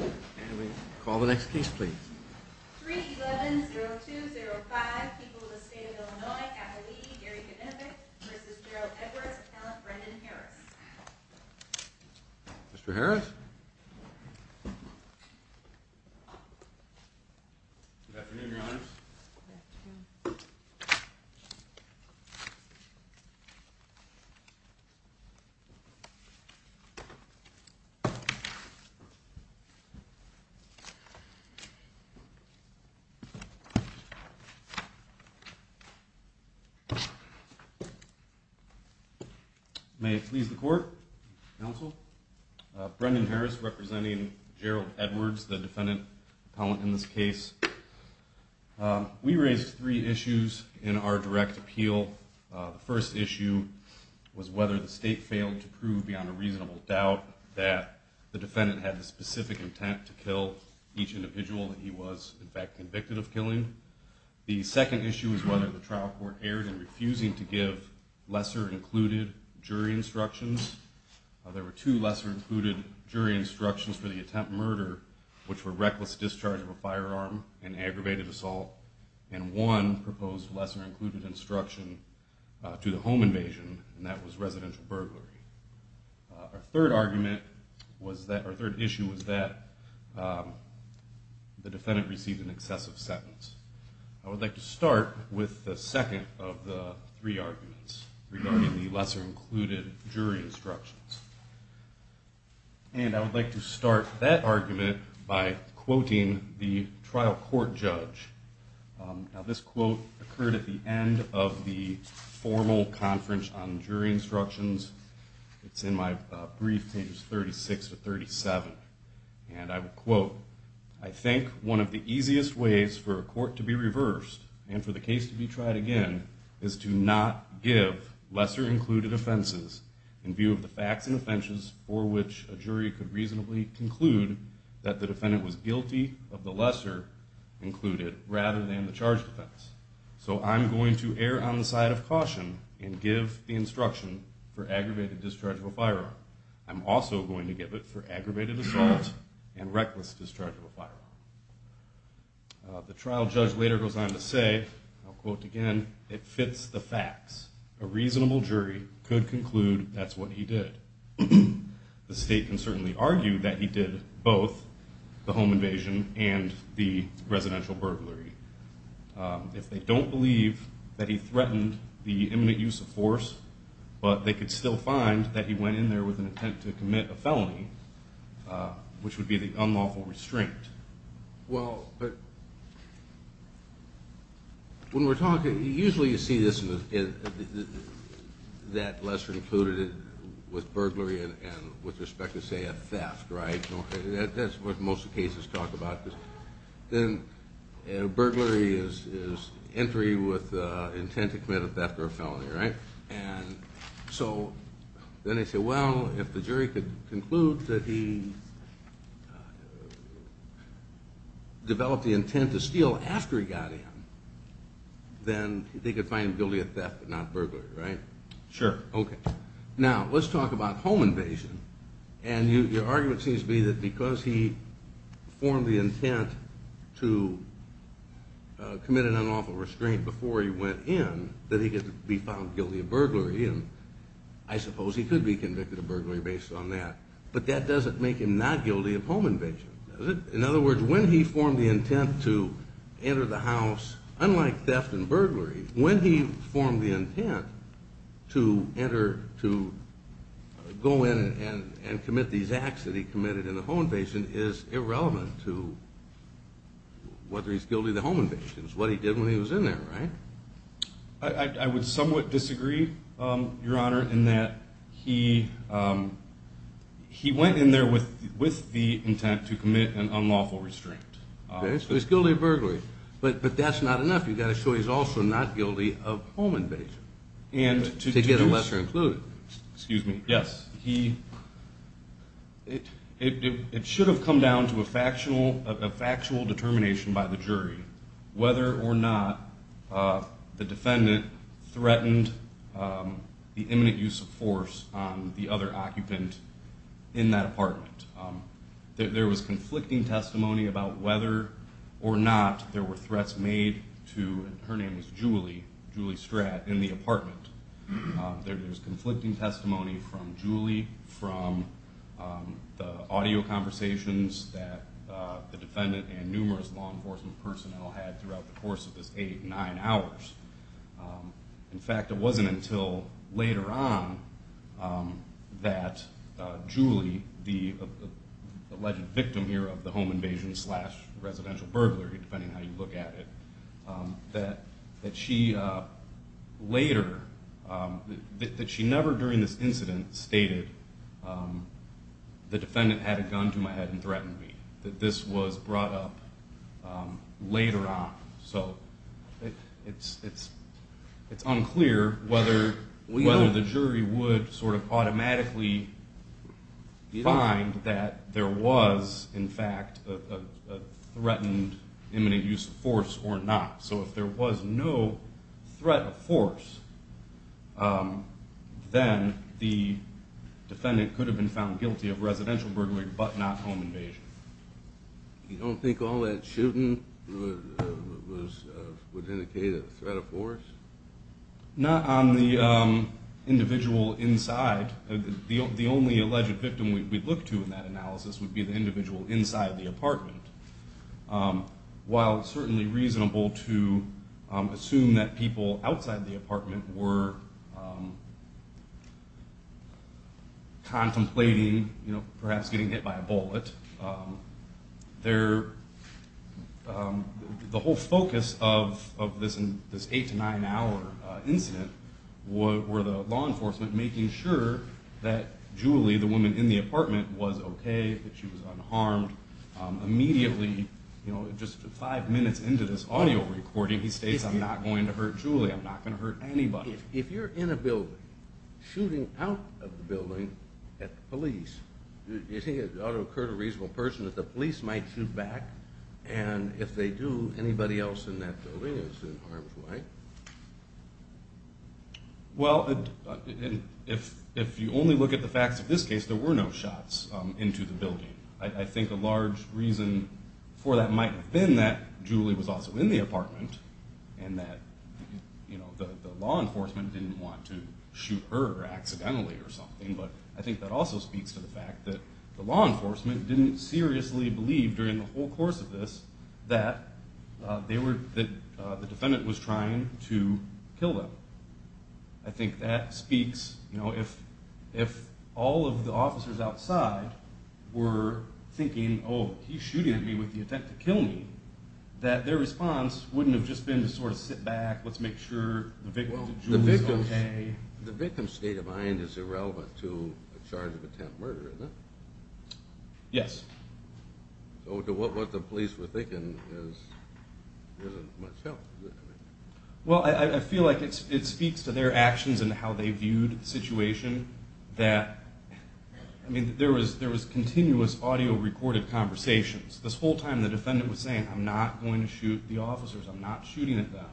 and we call the next case please mr. Harris May it please the court, counsel. Brendan Harris representing Gerald Edwards, the defendant appellant in this case. We raised three issues in our direct appeal. The first issue was whether the state failed to prove beyond a reasonable doubt that the defendant had the specific intent to kill each individual that he was in fact convicted of killing. The second issue is whether the trial court erred in refusing to give lesser included jury instructions. There were two lesser included jury instructions for the attempt murder which were reckless discharge of a firearm and aggravated assault and one proposed lesser included instruction to the home invasion and that was residential burglary. Our third argument was that our third issue was that the defendant received an excessive sentence. I would like to start with the second of the three arguments regarding the lesser included jury instructions and I would like to start that argument by quoting the trial court judge. Now this quote occurred at the end of the formal conference on jury instructions. It's in my brief page 36 to 37 and I would quote I think one of the easiest ways for a court to be reversed and for the case to be tried again is to not give lesser included offenses in view of the facts and offenses for which a jury could reasonably conclude that the defendant was guilty of the lesser included rather than the charge offense. So I'm going to err on the side of caution and give the instruction for aggravated discharge of a firearm. I'm also going to give it for aggravated assault and reckless discharge of a firearm. The trial judge later goes on to say, I'll quote again, it fits the facts. A reasonable jury could conclude that's what he did. The state can certainly argue that he did both the home burglary. If they don't believe that he threatened the imminent use of force, but they could still find that he went in there with an intent to commit a felony, which would be the unlawful restraint. Well, when we're talking, usually you see this in that lesser included with burglary and with respect to, say, a theft, right? That's what most cases talk about. Then burglary is entry with intent to commit a theft or a felony, right? And so then they say, well, if the jury could conclude that he developed the intent to steal after he got in, then they could find him guilty of theft but not burglary, right? Sure. Okay. Now let's talk about home invasion. And your argument seems to be that because he formed the intent to commit an unlawful restraint before he went in, that he could be found guilty of burglary. And I suppose he could be convicted of burglary based on that. But that doesn't make him not guilty of home invasion, does it? In other words, when he formed the intent to enter, to go in and commit these acts that he committed in the home invasion is irrelevant to whether he's guilty of the home invasion. It's what he did when he was in there, right? I would somewhat disagree, Your Honor, in that he went in there with the intent to commit an unlawful restraint. So he's guilty of burglary. But that's not enough. You've got to show he's also not guilty of home invasion to get a lesser included. Excuse me. Yes. It should have come down to a factual determination by the jury whether or not the defendant threatened the imminent use of force on the other occupant in that apartment. There was conflicting testimony about whether or not there were threats made to, and her name was Julie, Julie Stratt, in the apartment. There's conflicting testimony from Julie, from the audio conversations that the defendant and numerous law enforcement personnel had throughout the course of this eight, nine hours. In fact, it wasn't until later on that Julie, the alleged victim here of the home invasion, residential burglary, depending on how you look at it, that she later, that she never during this incident stated, the defendant had a gun to my head and threatened me. That this was brought up later on. So it's unclear whether the jury would sort of automatically find that there was, in fact, a threatened imminent use of force or not. So if there was no threat of force, then the defendant could have been found guilty of residential burglary, but not home invasion. You don't think all that shooting would indicate a threat of force? Not on the individual inside. The only alleged victim we'd look to in that analysis would be the individual inside the apartment. While it's certainly reasonable to assume that people outside the apartment were contemplating, you know, perhaps getting hit by a bullet, the whole focus of this eight to nine hour incident were the law enforcement making sure that Julie, the woman in the apartment, was okay, that she was unharmed. Immediately, you know, just five minutes into this audio recording, he states, I'm not going to hurt Julie. I'm not going to hurt anybody. If you're in a building, shooting out of the building at the police, you think it ought to occur to a reasonable person that the police might shoot back? And if they do, anybody else in that building is in harm's way? Well, if you only look at the facts of this case, there were no shots into the building. I think a large reason for that might have been that Julie was also in the apartment and that, you know, the law enforcement didn't want to shoot her accidentally or something, but I think that also speaks to the fact that the law enforcement didn't seriously believe during the whole course of this that the defendant was trying to kill them. I think that speaks, you know, if all of the officers outside were thinking, oh, he's shooting at me with the intent to kill me, that their response wouldn't have just been to sort of sit back, let's make sure the victim's state of mind is irrelevant to a charge of attempted murder, isn't it? Yes. So to what the police were thinking isn't much help. Well, I feel like it speaks to their actions and how they viewed the situation that, I mean, there was continuous audio recorded conversations. This whole time the defendant was saying, I'm not going to shoot the officers. I'm not shooting at them.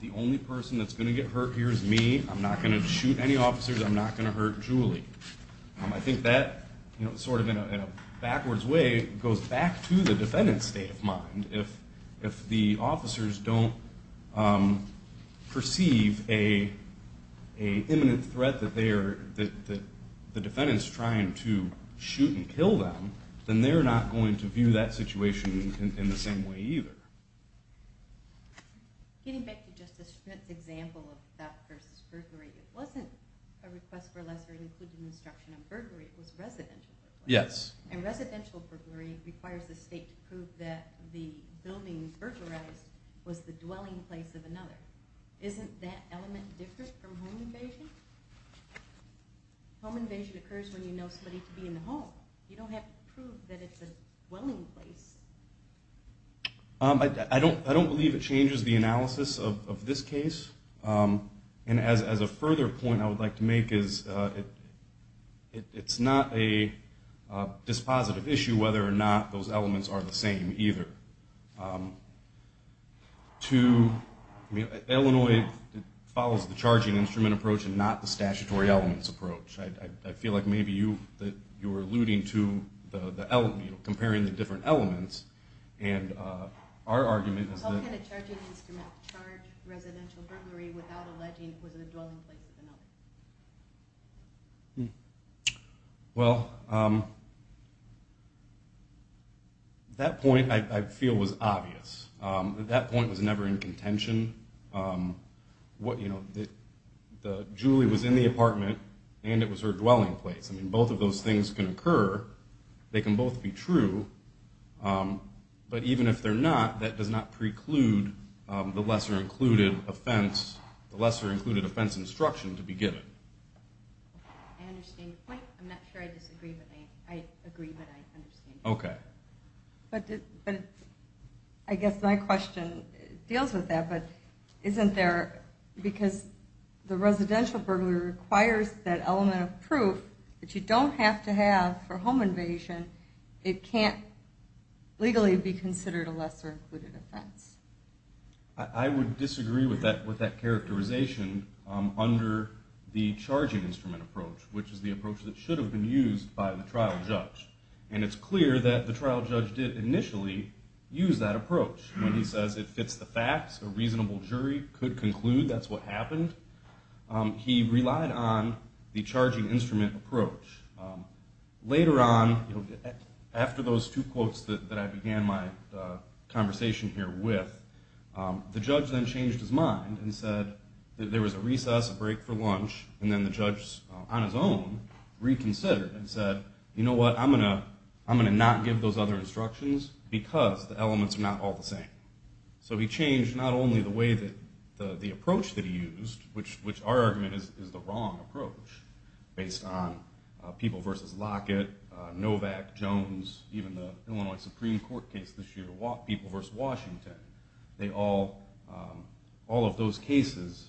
The only person that's going to get hurt here is me. I'm not going to shoot any officers. I'm not going to hurt Julie. I think that, you know, sort of in a backwards way goes back to the defendant's state of mind. If the officers don't perceive a imminent threat that they are, that the defendant's trying to shoot and kill them, then they're not going to view that situation in the same way either. Getting back to Justice Schmidt's example of theft versus burglary, it wasn't a request for a lesser included instruction on burglary, it was residential burglary. Yes. And residential burglary requires the state to prove that the building burglarized was the dwelling place of another. Isn't that element different from home invasion? Home invasion occurs when you know somebody to be in the home. You don't have to prove that it's a dwelling place. I don't believe it changes the analysis of this case. And as a further point I would like to make is it's not a dispositive issue whether or not those elements are the same either. Illinois follows the charging instrument approach and not the statutory elements approach. I feel like maybe you were alluding to comparing the different elements and our argument is that How can a charging instrument charge residential burglary without alleging it was a dwelling place of another? Well, that point I feel was obvious. That point was never in contention. Julie was in the apartment and it was her dwelling place. Both of those things can occur. They can both be true. But even if they're not, that does not preclude the lesser included offense instruction to begin with. I understand your point. I'm not sure I disagree, but I agree. Okay. But I guess my question deals with that, but isn't there, because the residential burglary requires that element of proof that you don't have to have for home invasion, it can't legally be considered a lesser included offense? I would disagree with that characterization under the charging instrument approach, which is the approach that should have been used by the trial judge. And it's clear that the trial judge did initially use that approach. When he says it fits the facts, a reasonable jury could conclude that's what The judge then changed his mind and said that there was a recess, a break for lunch, and then the judge on his own reconsidered and said, you know what, I'm going to not give those other instructions because the elements are not all the same. So he changed not only the way that the approach that he used, which our Washington, all of those cases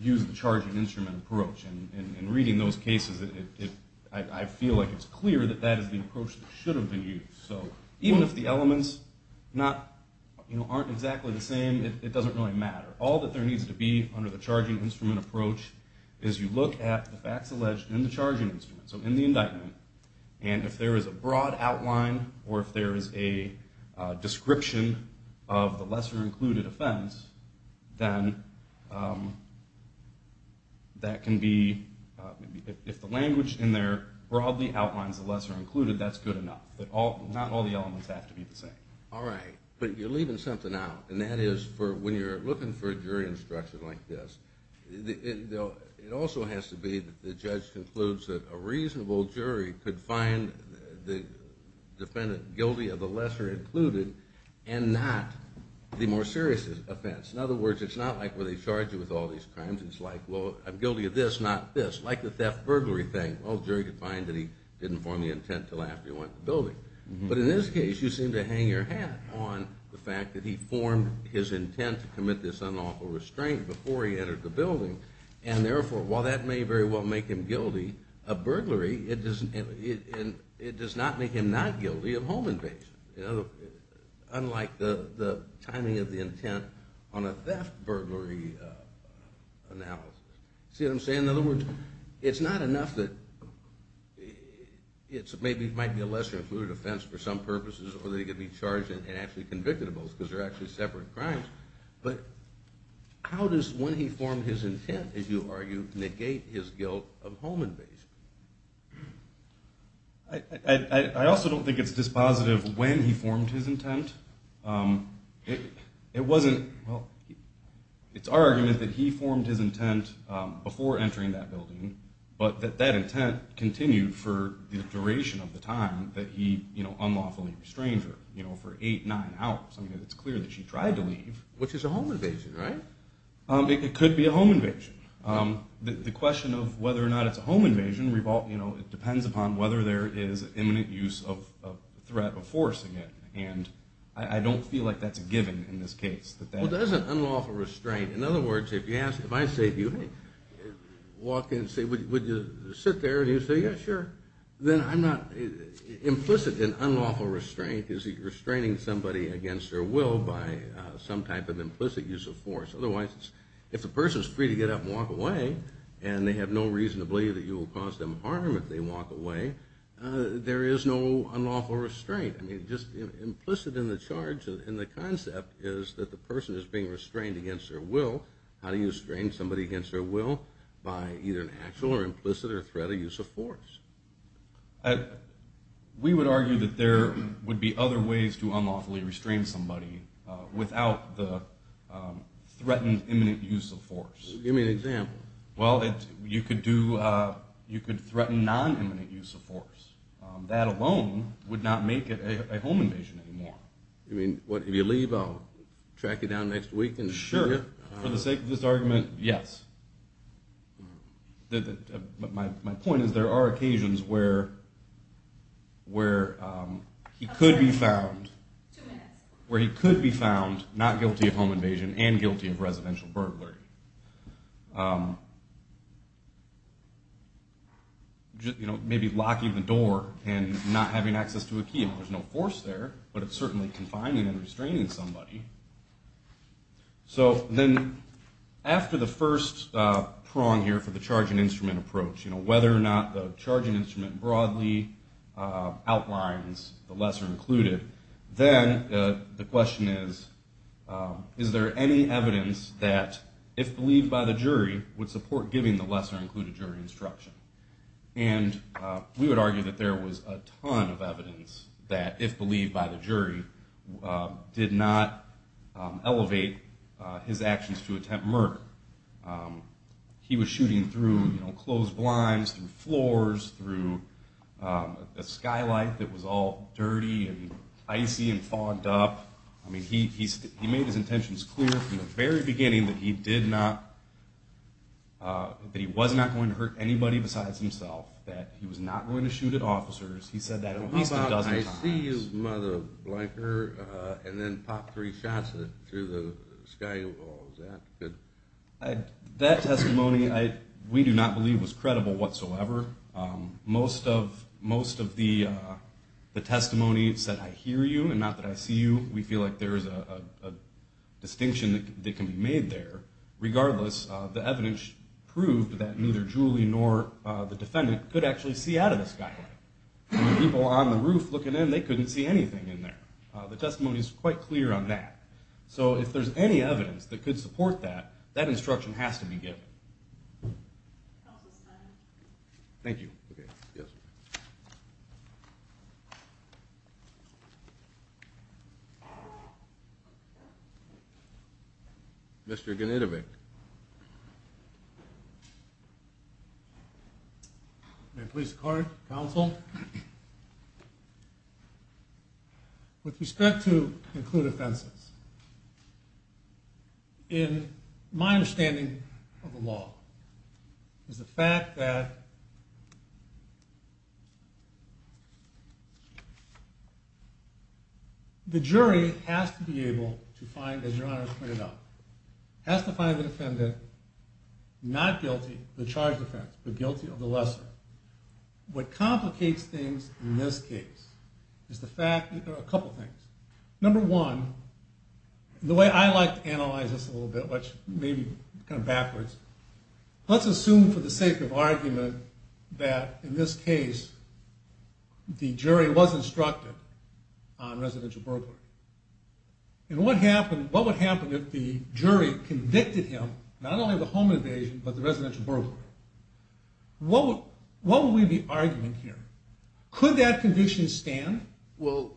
use the charging instrument approach. And reading those cases, I feel like it's clear that that is the approach that should have been used. So even if the elements aren't exactly the same, it doesn't really matter. All that there needs to be under the charging instrument approach is you look at the facts alleged in the charging instrument, so in the indictment, and if there is a broad outline or if there is a description of the lesser included offense, then that can be, if the language in there broadly outlines the lesser included, that's good enough. Not all the elements have to be the same. All right. But you're leaving something out, and that is for when you're looking for a jury instruction like this, it also has to be that the judge concludes that a reasonable jury could find the defendant guilty of the lesser included and not the more serious offense. In other words, it's not like where they charge you with all these crimes. It's like, well, I'm guilty of this, not this. Like the theft burglary thing. Well, the jury could find that he didn't form the intent until after he went out of the building. But in this case, you seem to hang your hat on the fact that he formed his intent to commit this unlawful restraint before he entered the building, and therefore, while that may very well make him guilty of burglary, it does not make him not guilty of home invasion, unlike the timing of the intent on a theft burglary analysis. See what I'm saying? In other words, it's not enough that it might be a lesser included offense for some purposes, or that he could be charged and actually convicted of both, because they're actually separate crimes. But how does when he formed his intent, as you argue, negate his guilt of home invasion? I also don't think it's dispositive when he formed his intent. It wasn't, well, it's our argument that he formed his intent before entering that building, but that that intent continued for the duration of the time that he unlawfully restrained her, you know, for eight, nine hours. I mean, it's clear that she tried to leave. Which is a home invasion, right? It could be a home invasion. The question of whether or not it's a home invasion, you know, it depends upon whether there is imminent use of threat of forcing it, and I don't feel like that's a given in this case. Well, there's an unlawful restraint. In other words, if I say to you, hey, walk in and say, would you sit there? And you say, yeah, sure. Then I'm not implicit in unlawful restraint. Is he restraining somebody against their will by some type of implicit use of force? Otherwise, if a person's free to get up and walk away, and they have no reason to believe that you will cause them harm if they walk away, there is no unlawful restraint. Right. I mean, just implicit in the charge, in the concept, is that the person is being restrained against their will. How do you restrain somebody against their will? By either an actual or implicit or threat of use of force. We would argue that there would be other ways to unlawfully restrain somebody without the threatened imminent use of force. Give me an example. Well, you could threaten non-imminent use of force. That alone would not make it a home invasion anymore. You mean, if you leave, I'll track you down next week? Sure. For the sake of this argument, yes. My point is, there are occasions where he could be found not guilty of home invasion and guilty of residential burglary. Maybe locking the door and not having access to a key. There's no force there, but it's certainly confining and restraining somebody. So then, after the first prong here for the charging instrument approach, whether or not the charging instrument broadly outlines the lesser included, then the question is, is there any evidence that, if believed by the jury, would support giving the lesser included jury instruction? And we would argue that there was a ton of evidence that, if believed by the jury, did not elevate his actions to attempt murder. He was shooting through closed blinds, through floors, through a skylight that was all dirty and icy and fogged up. I mean, he made his intentions clear from the very beginning that he was not going to hurt anybody besides himself, that he was not going to shoot at officers. He said that at least a dozen times. How about, I see you, mother blinker, and then pop three shots through the sky, is that good? That testimony, we do not believe, was credible whatsoever. Most of the testimony said, I hear you and not that I see you. We feel like there is a distinction that can be made there. Regardless, the evidence proved that neither Julie nor the defendant could actually see out of the skylight. People on the roof looking in, they couldn't see anything in there. The testimony is quite clear on that. So if there's any evidence that could support that, that instruction has to be given. Counsel's time. Thank you. Yes. Mr. Gnidove. May it please the Court, Counsel. Well, with respect to include offenses, in my understanding of the law, is the fact that the jury has to be able to find, as Your Honor has pointed out, has to find the defendant not guilty of the charged offense, but guilty of the lesser. What complicates things in this case is the fact, a couple things. Number one, the way I like to analyze this a little bit, which may be kind of backwards, let's assume for the sake of argument that in this case, the jury was instructed on residential burglary. And what would happen if the jury convicted him, not only of the home invasion, but the residential burglary? What would be the argument here? Could that conviction stand? Well,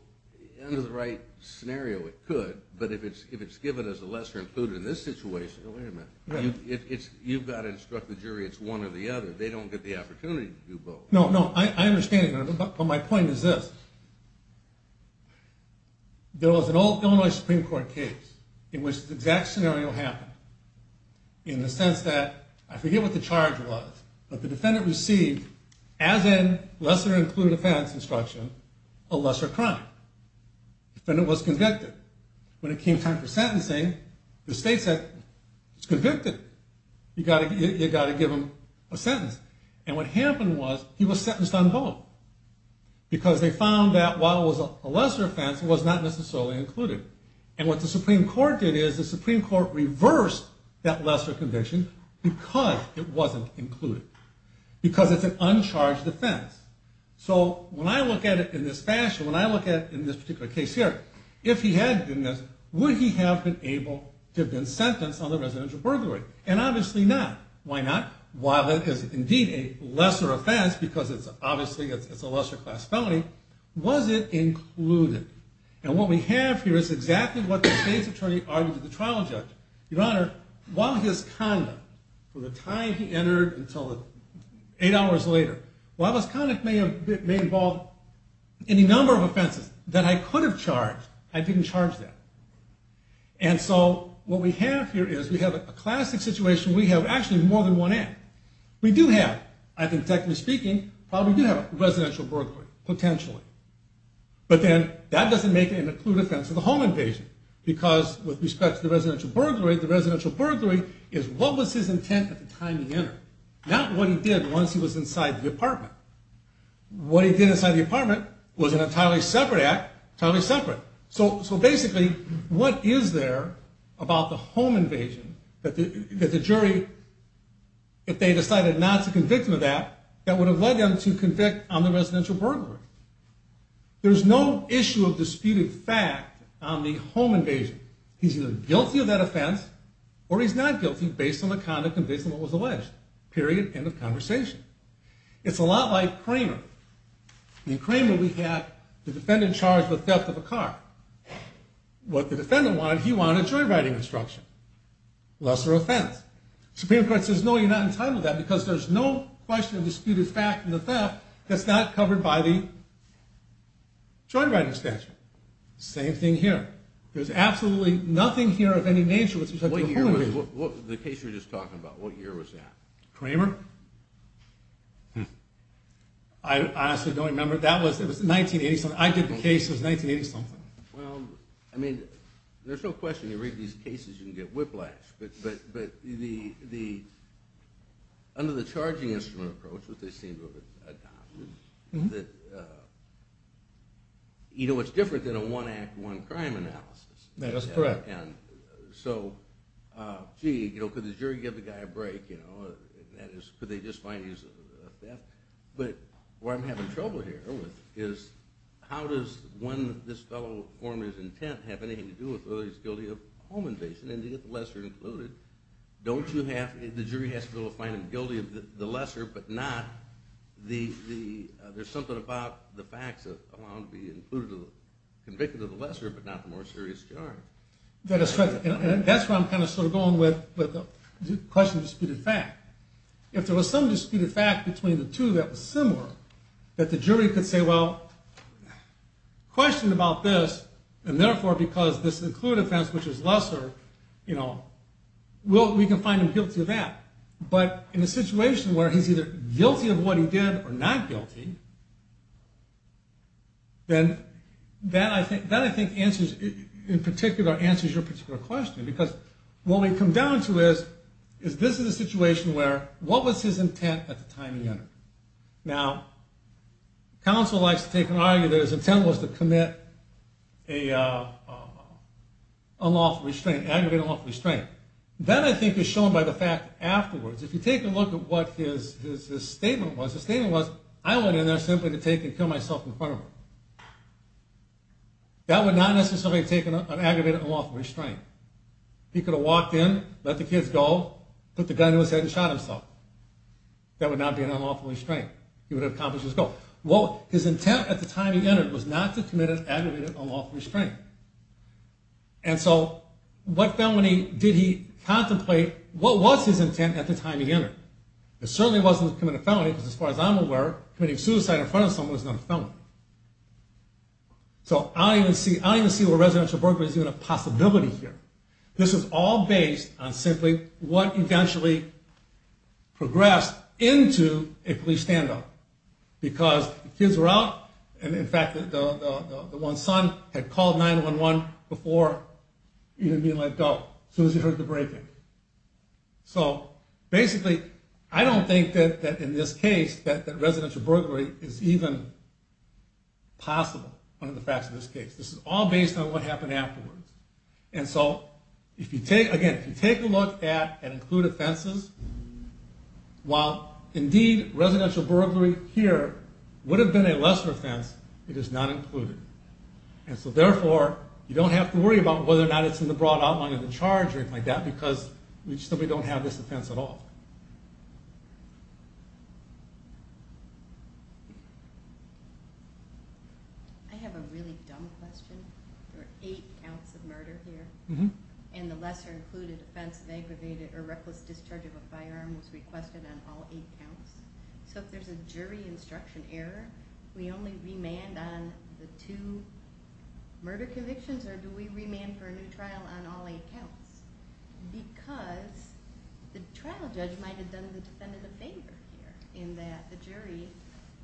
under the right scenario, it could. But if it's given as a lesser included in this situation, oh, wait a minute. You've got to instruct the jury it's one or the other. They don't get the opportunity to do both. No, no, I understand. But my point is this. There was an old Illinois Supreme Court case in which the exact scenario happened. In the sense that, I forget what the charge was, but the defendant received, as in lesser included offense instruction, a lesser crime. The defendant was convicted. When it came time for sentencing, the state said, he's convicted. You've got to give him a sentence. And what happened was, he was sentenced on both. Because they found that while it was a lesser offense, it was not necessarily included. And what the Supreme Court did is, the Supreme Court reversed that lesser conviction because it wasn't included. Because it's an uncharged offense. So, when I look at it in this fashion, when I look at it in this particular case here, if he had been, would he have been able to have been sentenced on the residential burglary? And obviously not. Why not? While it is indeed a lesser offense, because it's obviously a lesser class felony, was it included? And what we have here is exactly what the state's attorney argued to the trial judge. Your Honor, while his conduct, from the time he entered until eight hours later, while his conduct may involve any number of offenses that I could have charged, I didn't charge that. And so, what we have here is, we have a classic situation. We have actually more than one act. We do have, I think technically speaking, probably do have a residential burglary, potentially. But then, that doesn't make it an included offense of the home invasion. Because, with respect to the residential burglary, the residential burglary is what was his intent at the time he entered, not what he did once he was inside the apartment. What he did inside the apartment was an entirely separate act, totally separate. So, basically, what is there about the home invasion that the jury, if they decided not to convict him of that, that would have led them to convict on the residential burglary? There's no issue of disputed fact on the home invasion. He's either guilty of that offense, or he's not guilty based on the conduct and based on what was alleged. Period. End of conversation. It's a lot like Cramer. In Cramer, we have the defendant charged with theft of a car. What the defendant wanted, he wanted joyriding instruction. Lesser offense. Supreme Court says, no, you're not entitled to that, because there's no question of disputed fact in the theft that's not covered by the joyriding statute. Same thing here. There's absolutely nothing here of any nature with respect to the home invasion. The case you were just talking about, what year was that? Cramer? I honestly don't remember. That was 1987. I did the case. It was 1987. Well, I mean, there's no question. You read these cases, you can get whiplash. But under the charging instrument approach, which they seem to have adopted, it's different than a one-act, one-crime analysis. That's correct. So, gee, could the jury give the guy a break? Could they just find he's a theft? But what I'm having trouble here with is, how does this fellow's former intent have anything to do with whether he's guilty of home invasion? And to get the lesser included, the jury has to be able to find him guilty of the lesser, but not the there's something about the facts that allow him to be included, convicted of the lesser, but not the more serious charge. That's correct. And that's where I'm kind of sort of going with the question of disputed fact. If there was some disputed fact between the two that was similar, that the jury could say, well, question about this, and therefore, because this included facts, which is lesser, we can find him guilty of that. But in a situation where he's either guilty of what he did or not guilty, then that, I think, answers, in particular, answers your particular question. Because what we come down to is, is this is a situation where what was his intent at the time he entered? Now, counsel likes to take and argue that his intent was to commit an unlawful restraint, aggravated unlawful restraint. That, I think, is shown by the fact that afterwards, if you take a look at what his statement was, his statement was, I went in there simply to take and kill myself in front of him. That would not necessarily have taken an aggravated unlawful restraint. He could have walked in, let the kids go, put the gun to his head and shot himself. That would not be an unlawful restraint. He would have accomplished his goal. Well, his intent at the time he entered was not to commit an aggravated unlawful restraint. And so, what felony did he contemplate? What was his intent at the time he entered? It certainly wasn't to commit a felony, because as far as I'm aware, committing suicide in front of someone is not a felony. So, I don't even see where residential burglary is even a possibility here. This is all based on simply what eventually progressed into a police standoff. Because the kids were out, and in fact, the one son had called 911 before even being let go, as soon as he heard the breaking. So, basically, I don't think that in this case that residential burglary is even possible, one of the facts of this case. This is all based on what happened afterwards. And so, again, if you take a look at included offenses, while indeed residential burglary here would have been a lesser offense, it is not included. And so, therefore, you don't have to worry about whether or not it's in the broad outline of the charge or anything like that, because we simply don't have this offense at all. I have a really dumb question. There are eight counts of murder here. And the lesser included offense of aggravated or reckless discharge of a firearm was requested on all eight counts. So, if there's a jury instruction error, we only remand on the two murder convictions, or do we remand for a new trial on all eight counts? Because the trial judge might have done the defendant a favor here, in that the jury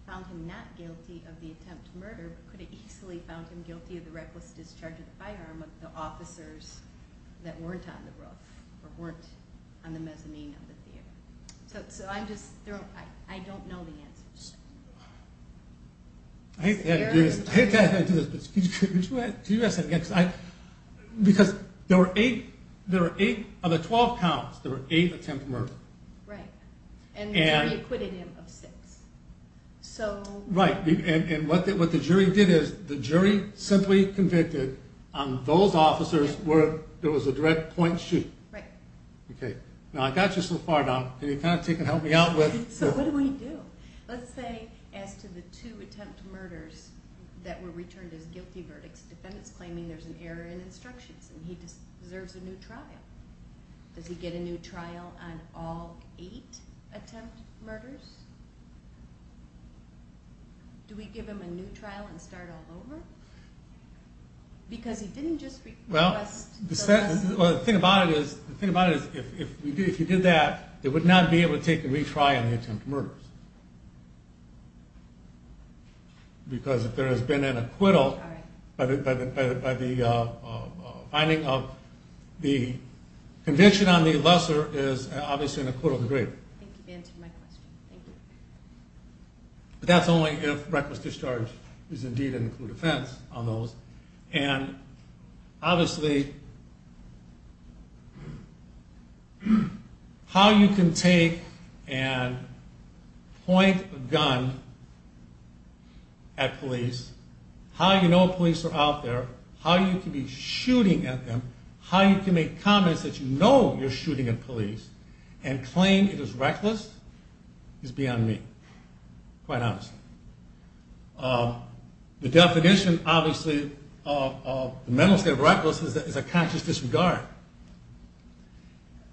found him not guilty of the attempt to murder, but could have easily found him guilty of the reckless discharge of the firearm of the officers that weren't on the roof, or weren't on the mezzanine of the theater. So, I don't know the answer to that. I hate to do this, but could you ask that again? Because there were eight of the 12 counts, there were eight attempts of murder. Right, and the jury acquitted him of six. Right, and what the jury did is, the jury simply convicted those officers where there was a direct point shoot. Right. Okay. Now, I got you so far, Doc. Can you kind of take and help me out with... So, what do we do? Let's say, as to the two attempt murders that were returned as guilty verdicts, the defendant's claiming there's an error in instructions, and he deserves a new trial. Does he get a new trial on all eight attempt murders? Do we give him a new trial and start all over? Because he didn't just request... Well, the thing about it is, if you did that, they would not be able to take a retry on the attempt murders. Because if there has been an acquittal by the finding of the conviction on the lesser is obviously an acquittal of the greater. Thank you for answering my question. Thank you. But that's only if reckless discharge is indeed an included offense on those. And, obviously, how you can take and point a gun at police, how you know police are out there, how you can be shooting at them, how you can make comments that you know you're shooting at police and claim it is reckless is beyond me, quite honestly. The definition, obviously, of the mental state of reckless is a conscious disregard.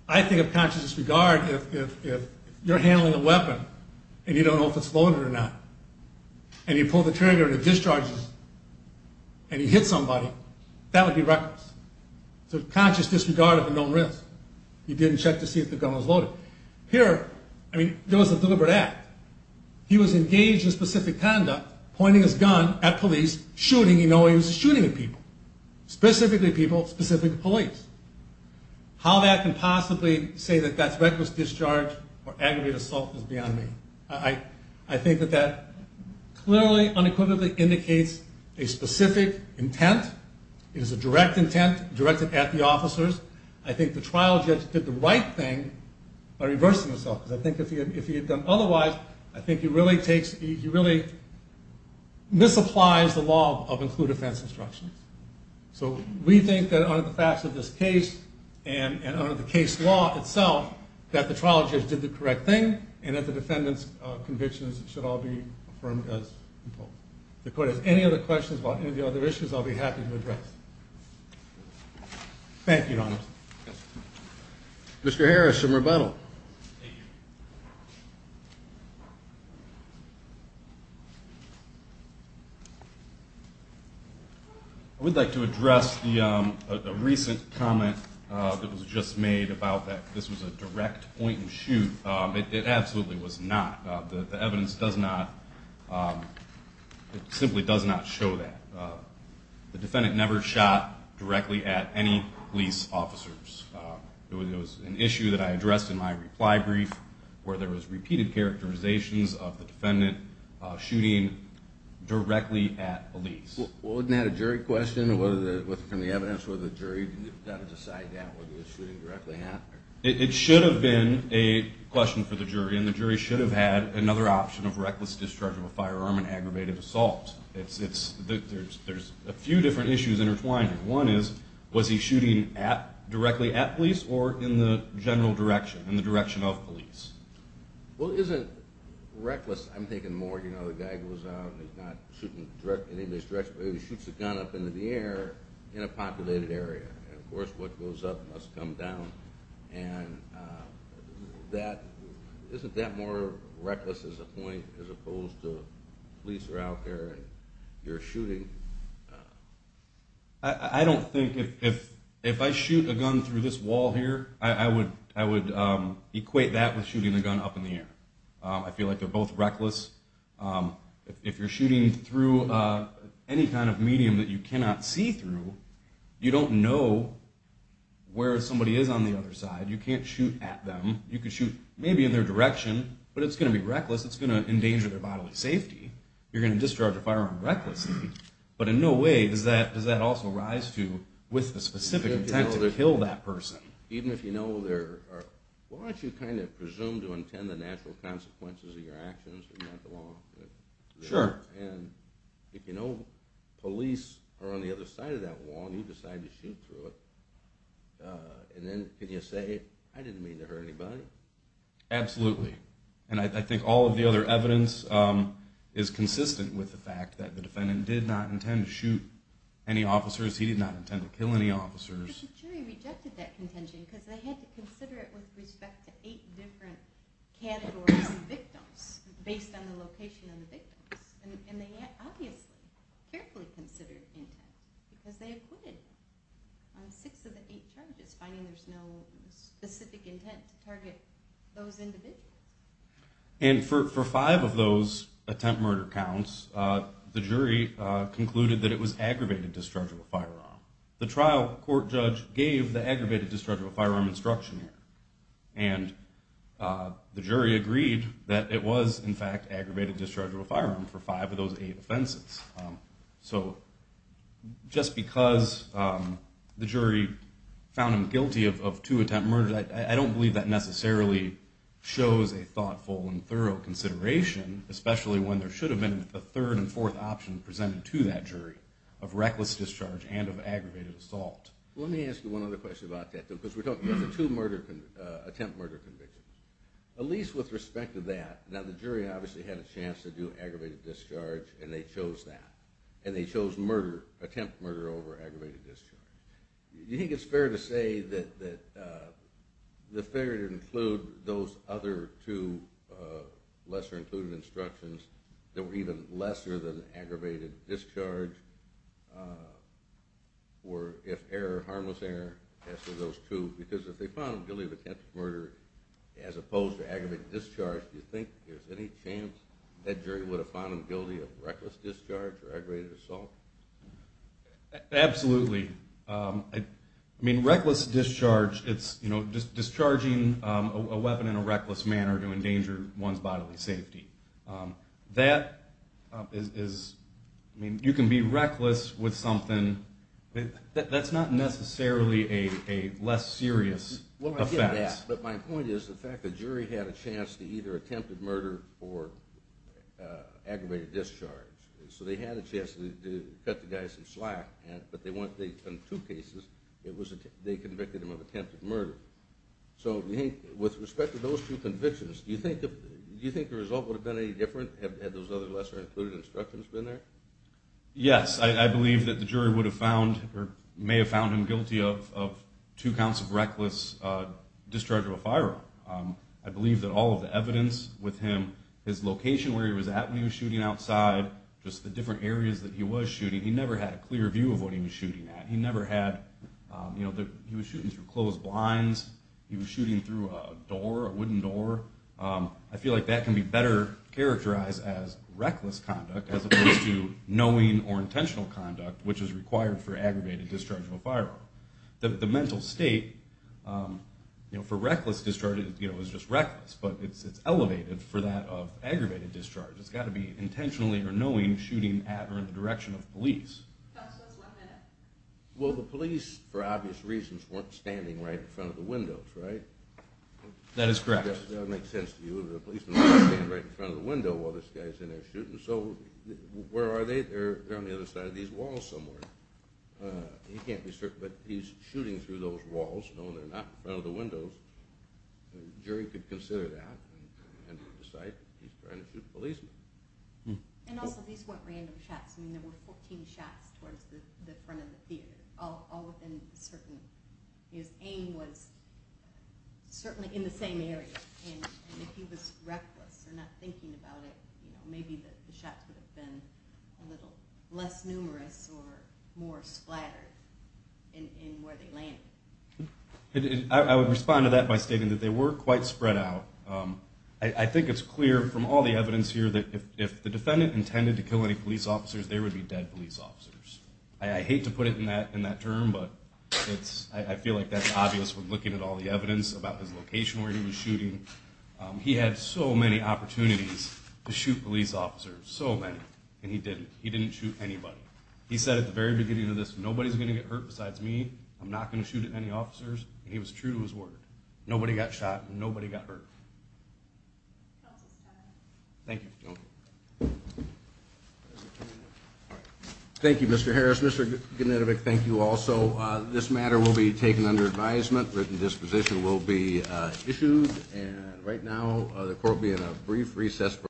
I think of conscious disregard if you're handling a weapon and you don't know if it's loaded or not, and you pull the trigger and it discharges and you hit somebody, that would be reckless. It's a conscious disregard of a known risk. You didn't check to see if the gun was loaded. Here, I mean, there was a deliberate act. He was engaged in specific conduct, pointing his gun at police, shooting. He knows he was shooting at people, specifically people, specifically police. How that can possibly say that that's reckless discharge or aggravated assault is beyond me. I think that that clearly, unequivocally indicates a specific intent. It is a direct intent directed at the officers. I think the trial judge did the right thing by reversing himself. Because I think if he had done otherwise, I think he really misapplies the law of include offense instructions. So we think that under the facts of this case and under the case law itself, that the trial judge did the correct thing and that the defendant's convictions should all be affirmed as imposed. If the court has any other questions about any of the other issues, Thank you, Your Honor. Mr. Harris for rebuttal. I would like to address the recent comment that was just made about that this was a direct point and shoot. It absolutely was not. The evidence does not, it simply does not show that. The defendant never shot directly at any police officers. It was an issue that I addressed in my reply brief where there was repeated characterizations of the defendant shooting directly at police. Well, wouldn't that have been a jury question? From the evidence, would the jury have to decide that, whether it was shooting directly at? It should have been a question for the jury, and the jury should have had another option of reckless discharge of a firearm and aggravated assault. There's a few different issues intertwined here. One is, was he shooting directly at police or in the general direction, in the direction of police? Well, isn't reckless, I'm thinking more, you know, the guy goes out and he's not shooting in anybody's direction, but he shoots a gun up into the air in a populated area. And, of course, what goes up must come down. And isn't that more reckless as a point where you're shooting? I don't think if I shoot a gun through this wall here, I would equate that with shooting the gun up in the air. I feel like they're both reckless. If you're shooting through any kind of medium that you cannot see through, you don't know where somebody is on the other side. You can't shoot at them. You can shoot maybe in their direction, but it's going to be reckless. It's going to endanger their bodily safety. You're going to discharge a firearm recklessly. But in no way does that also rise to, with the specific intent, to kill that person. Even if you know there are, why don't you kind of presume to intend the natural consequences of your actions? Sure. And if you know police are on the other side of that wall and you decide to shoot through it, and then can you say, I didn't mean to hurt anybody? Absolutely. And I think all of the other evidence is consistent with the fact that the defendant did not intend to shoot any officers. He did not intend to kill any officers. But the jury rejected that contention because they had to consider it with respect to 8 different categories of victims based on the location of the victims. And they obviously carefully considered intent because they acquitted on 6 of the 8 charges, finding there's no specific intent to target those individuals. And for 5 of those attempt murder counts, the jury concluded that it was aggravated discharge of a firearm. The trial court judge gave the aggravated discharge of a firearm instruction here. And the jury agreed that it was, in fact, aggravated discharge of a firearm for 5 of those 8 offenses. So just because the jury found him guilty of 2 attempt murders, I don't believe that necessarily shows a thoughtful and thorough consideration, especially when there should have been a 3rd and 4th option presented to that jury of reckless discharge and of aggravated assault. Let me ask you one other question about that, because we're talking about the 2 attempt murder convictions. Elyse, with respect to that, now the jury obviously had a chance to do aggravated discharge, and they chose that. And they chose murder, attempt murder over aggravated discharge. Do you think it's fair to say that it's fair to include those other 2 lesser-included instructions that were even lesser than aggravated discharge or if error, harmless error, as for those 2? Because if they found him guilty of attempt murder as opposed to aggravated discharge, do you think there's any chance that jury would have found him guilty of reckless discharge or aggravated assault? Absolutely. I mean, reckless discharge, it's discharging a weapon in a reckless manner to endanger one's bodily safety. That is... I mean, you can be reckless with something... That's not necessarily a less serious offense. Well, I get that, but my point is the fact the jury had a chance to either attempt murder or aggravated discharge. So they had a chance to cut the guy some slack, but in 2 cases, they convicted him of attempted murder. So with respect to those 2 convictions, do you think the result would have been any different had those other lesser-included instructions been there? Yes, I believe that the jury would have found or may have found him guilty of 2 counts of reckless discharge of a firearm. I believe that all of the evidence with him, his location where he was at when he was shooting outside, just the different areas that he was shooting, he never had a clear view of what he was shooting at. He never had... He was shooting through closed blinds. He was shooting through a door, a wooden door. I feel like that can be better characterized as reckless conduct as opposed to knowing or intentional conduct, which is required for aggravated discharge of a firearm. The mental state for reckless discharge is just reckless, but it's elevated for that of aggravated discharge. It's got to be intentionally or knowing shooting at or in the direction of police. That's one minute. Well, the police, for obvious reasons, weren't standing right in front of the windows, right? That is correct. That makes sense to you. The policemen weren't standing right in front of the window while this guy's in there shooting, so where are they? They're on the other side of these walls somewhere. He can't be certain, but he's shooting through those walls. No, they're not in front of the windows. A jury could consider that and decide that he's trying to shoot a policeman. Also, these weren't random shots. There were 14 shots towards the front of the theater, all within a certain... His aim was certainly in the same area, and if he was reckless or not thinking about it, maybe the shots would have been a little less numerous or more splattered in where they landed. I would respond to that by stating that they were quite spread out. I think it's clear from all the evidence here that if the defendant intended to kill any police officers, they would be dead police officers. I hate to put it in that term, but I feel like that's obvious when looking at all the evidence about his location where he was shooting. He had so many opportunities to shoot police officers, so many, and he didn't. He didn't shoot anybody. He said at the very beginning of this, nobody's going to get hurt besides me. I'm not going to shoot any officers, and he was true to his word. Nobody got shot, and nobody got hurt. Thank you. Thank you, Mr. Harris. Mr. Genetovic, thank you also. This matter will be taken under advisement. Written disposition will be issued, and right now the court will be in a brief recess.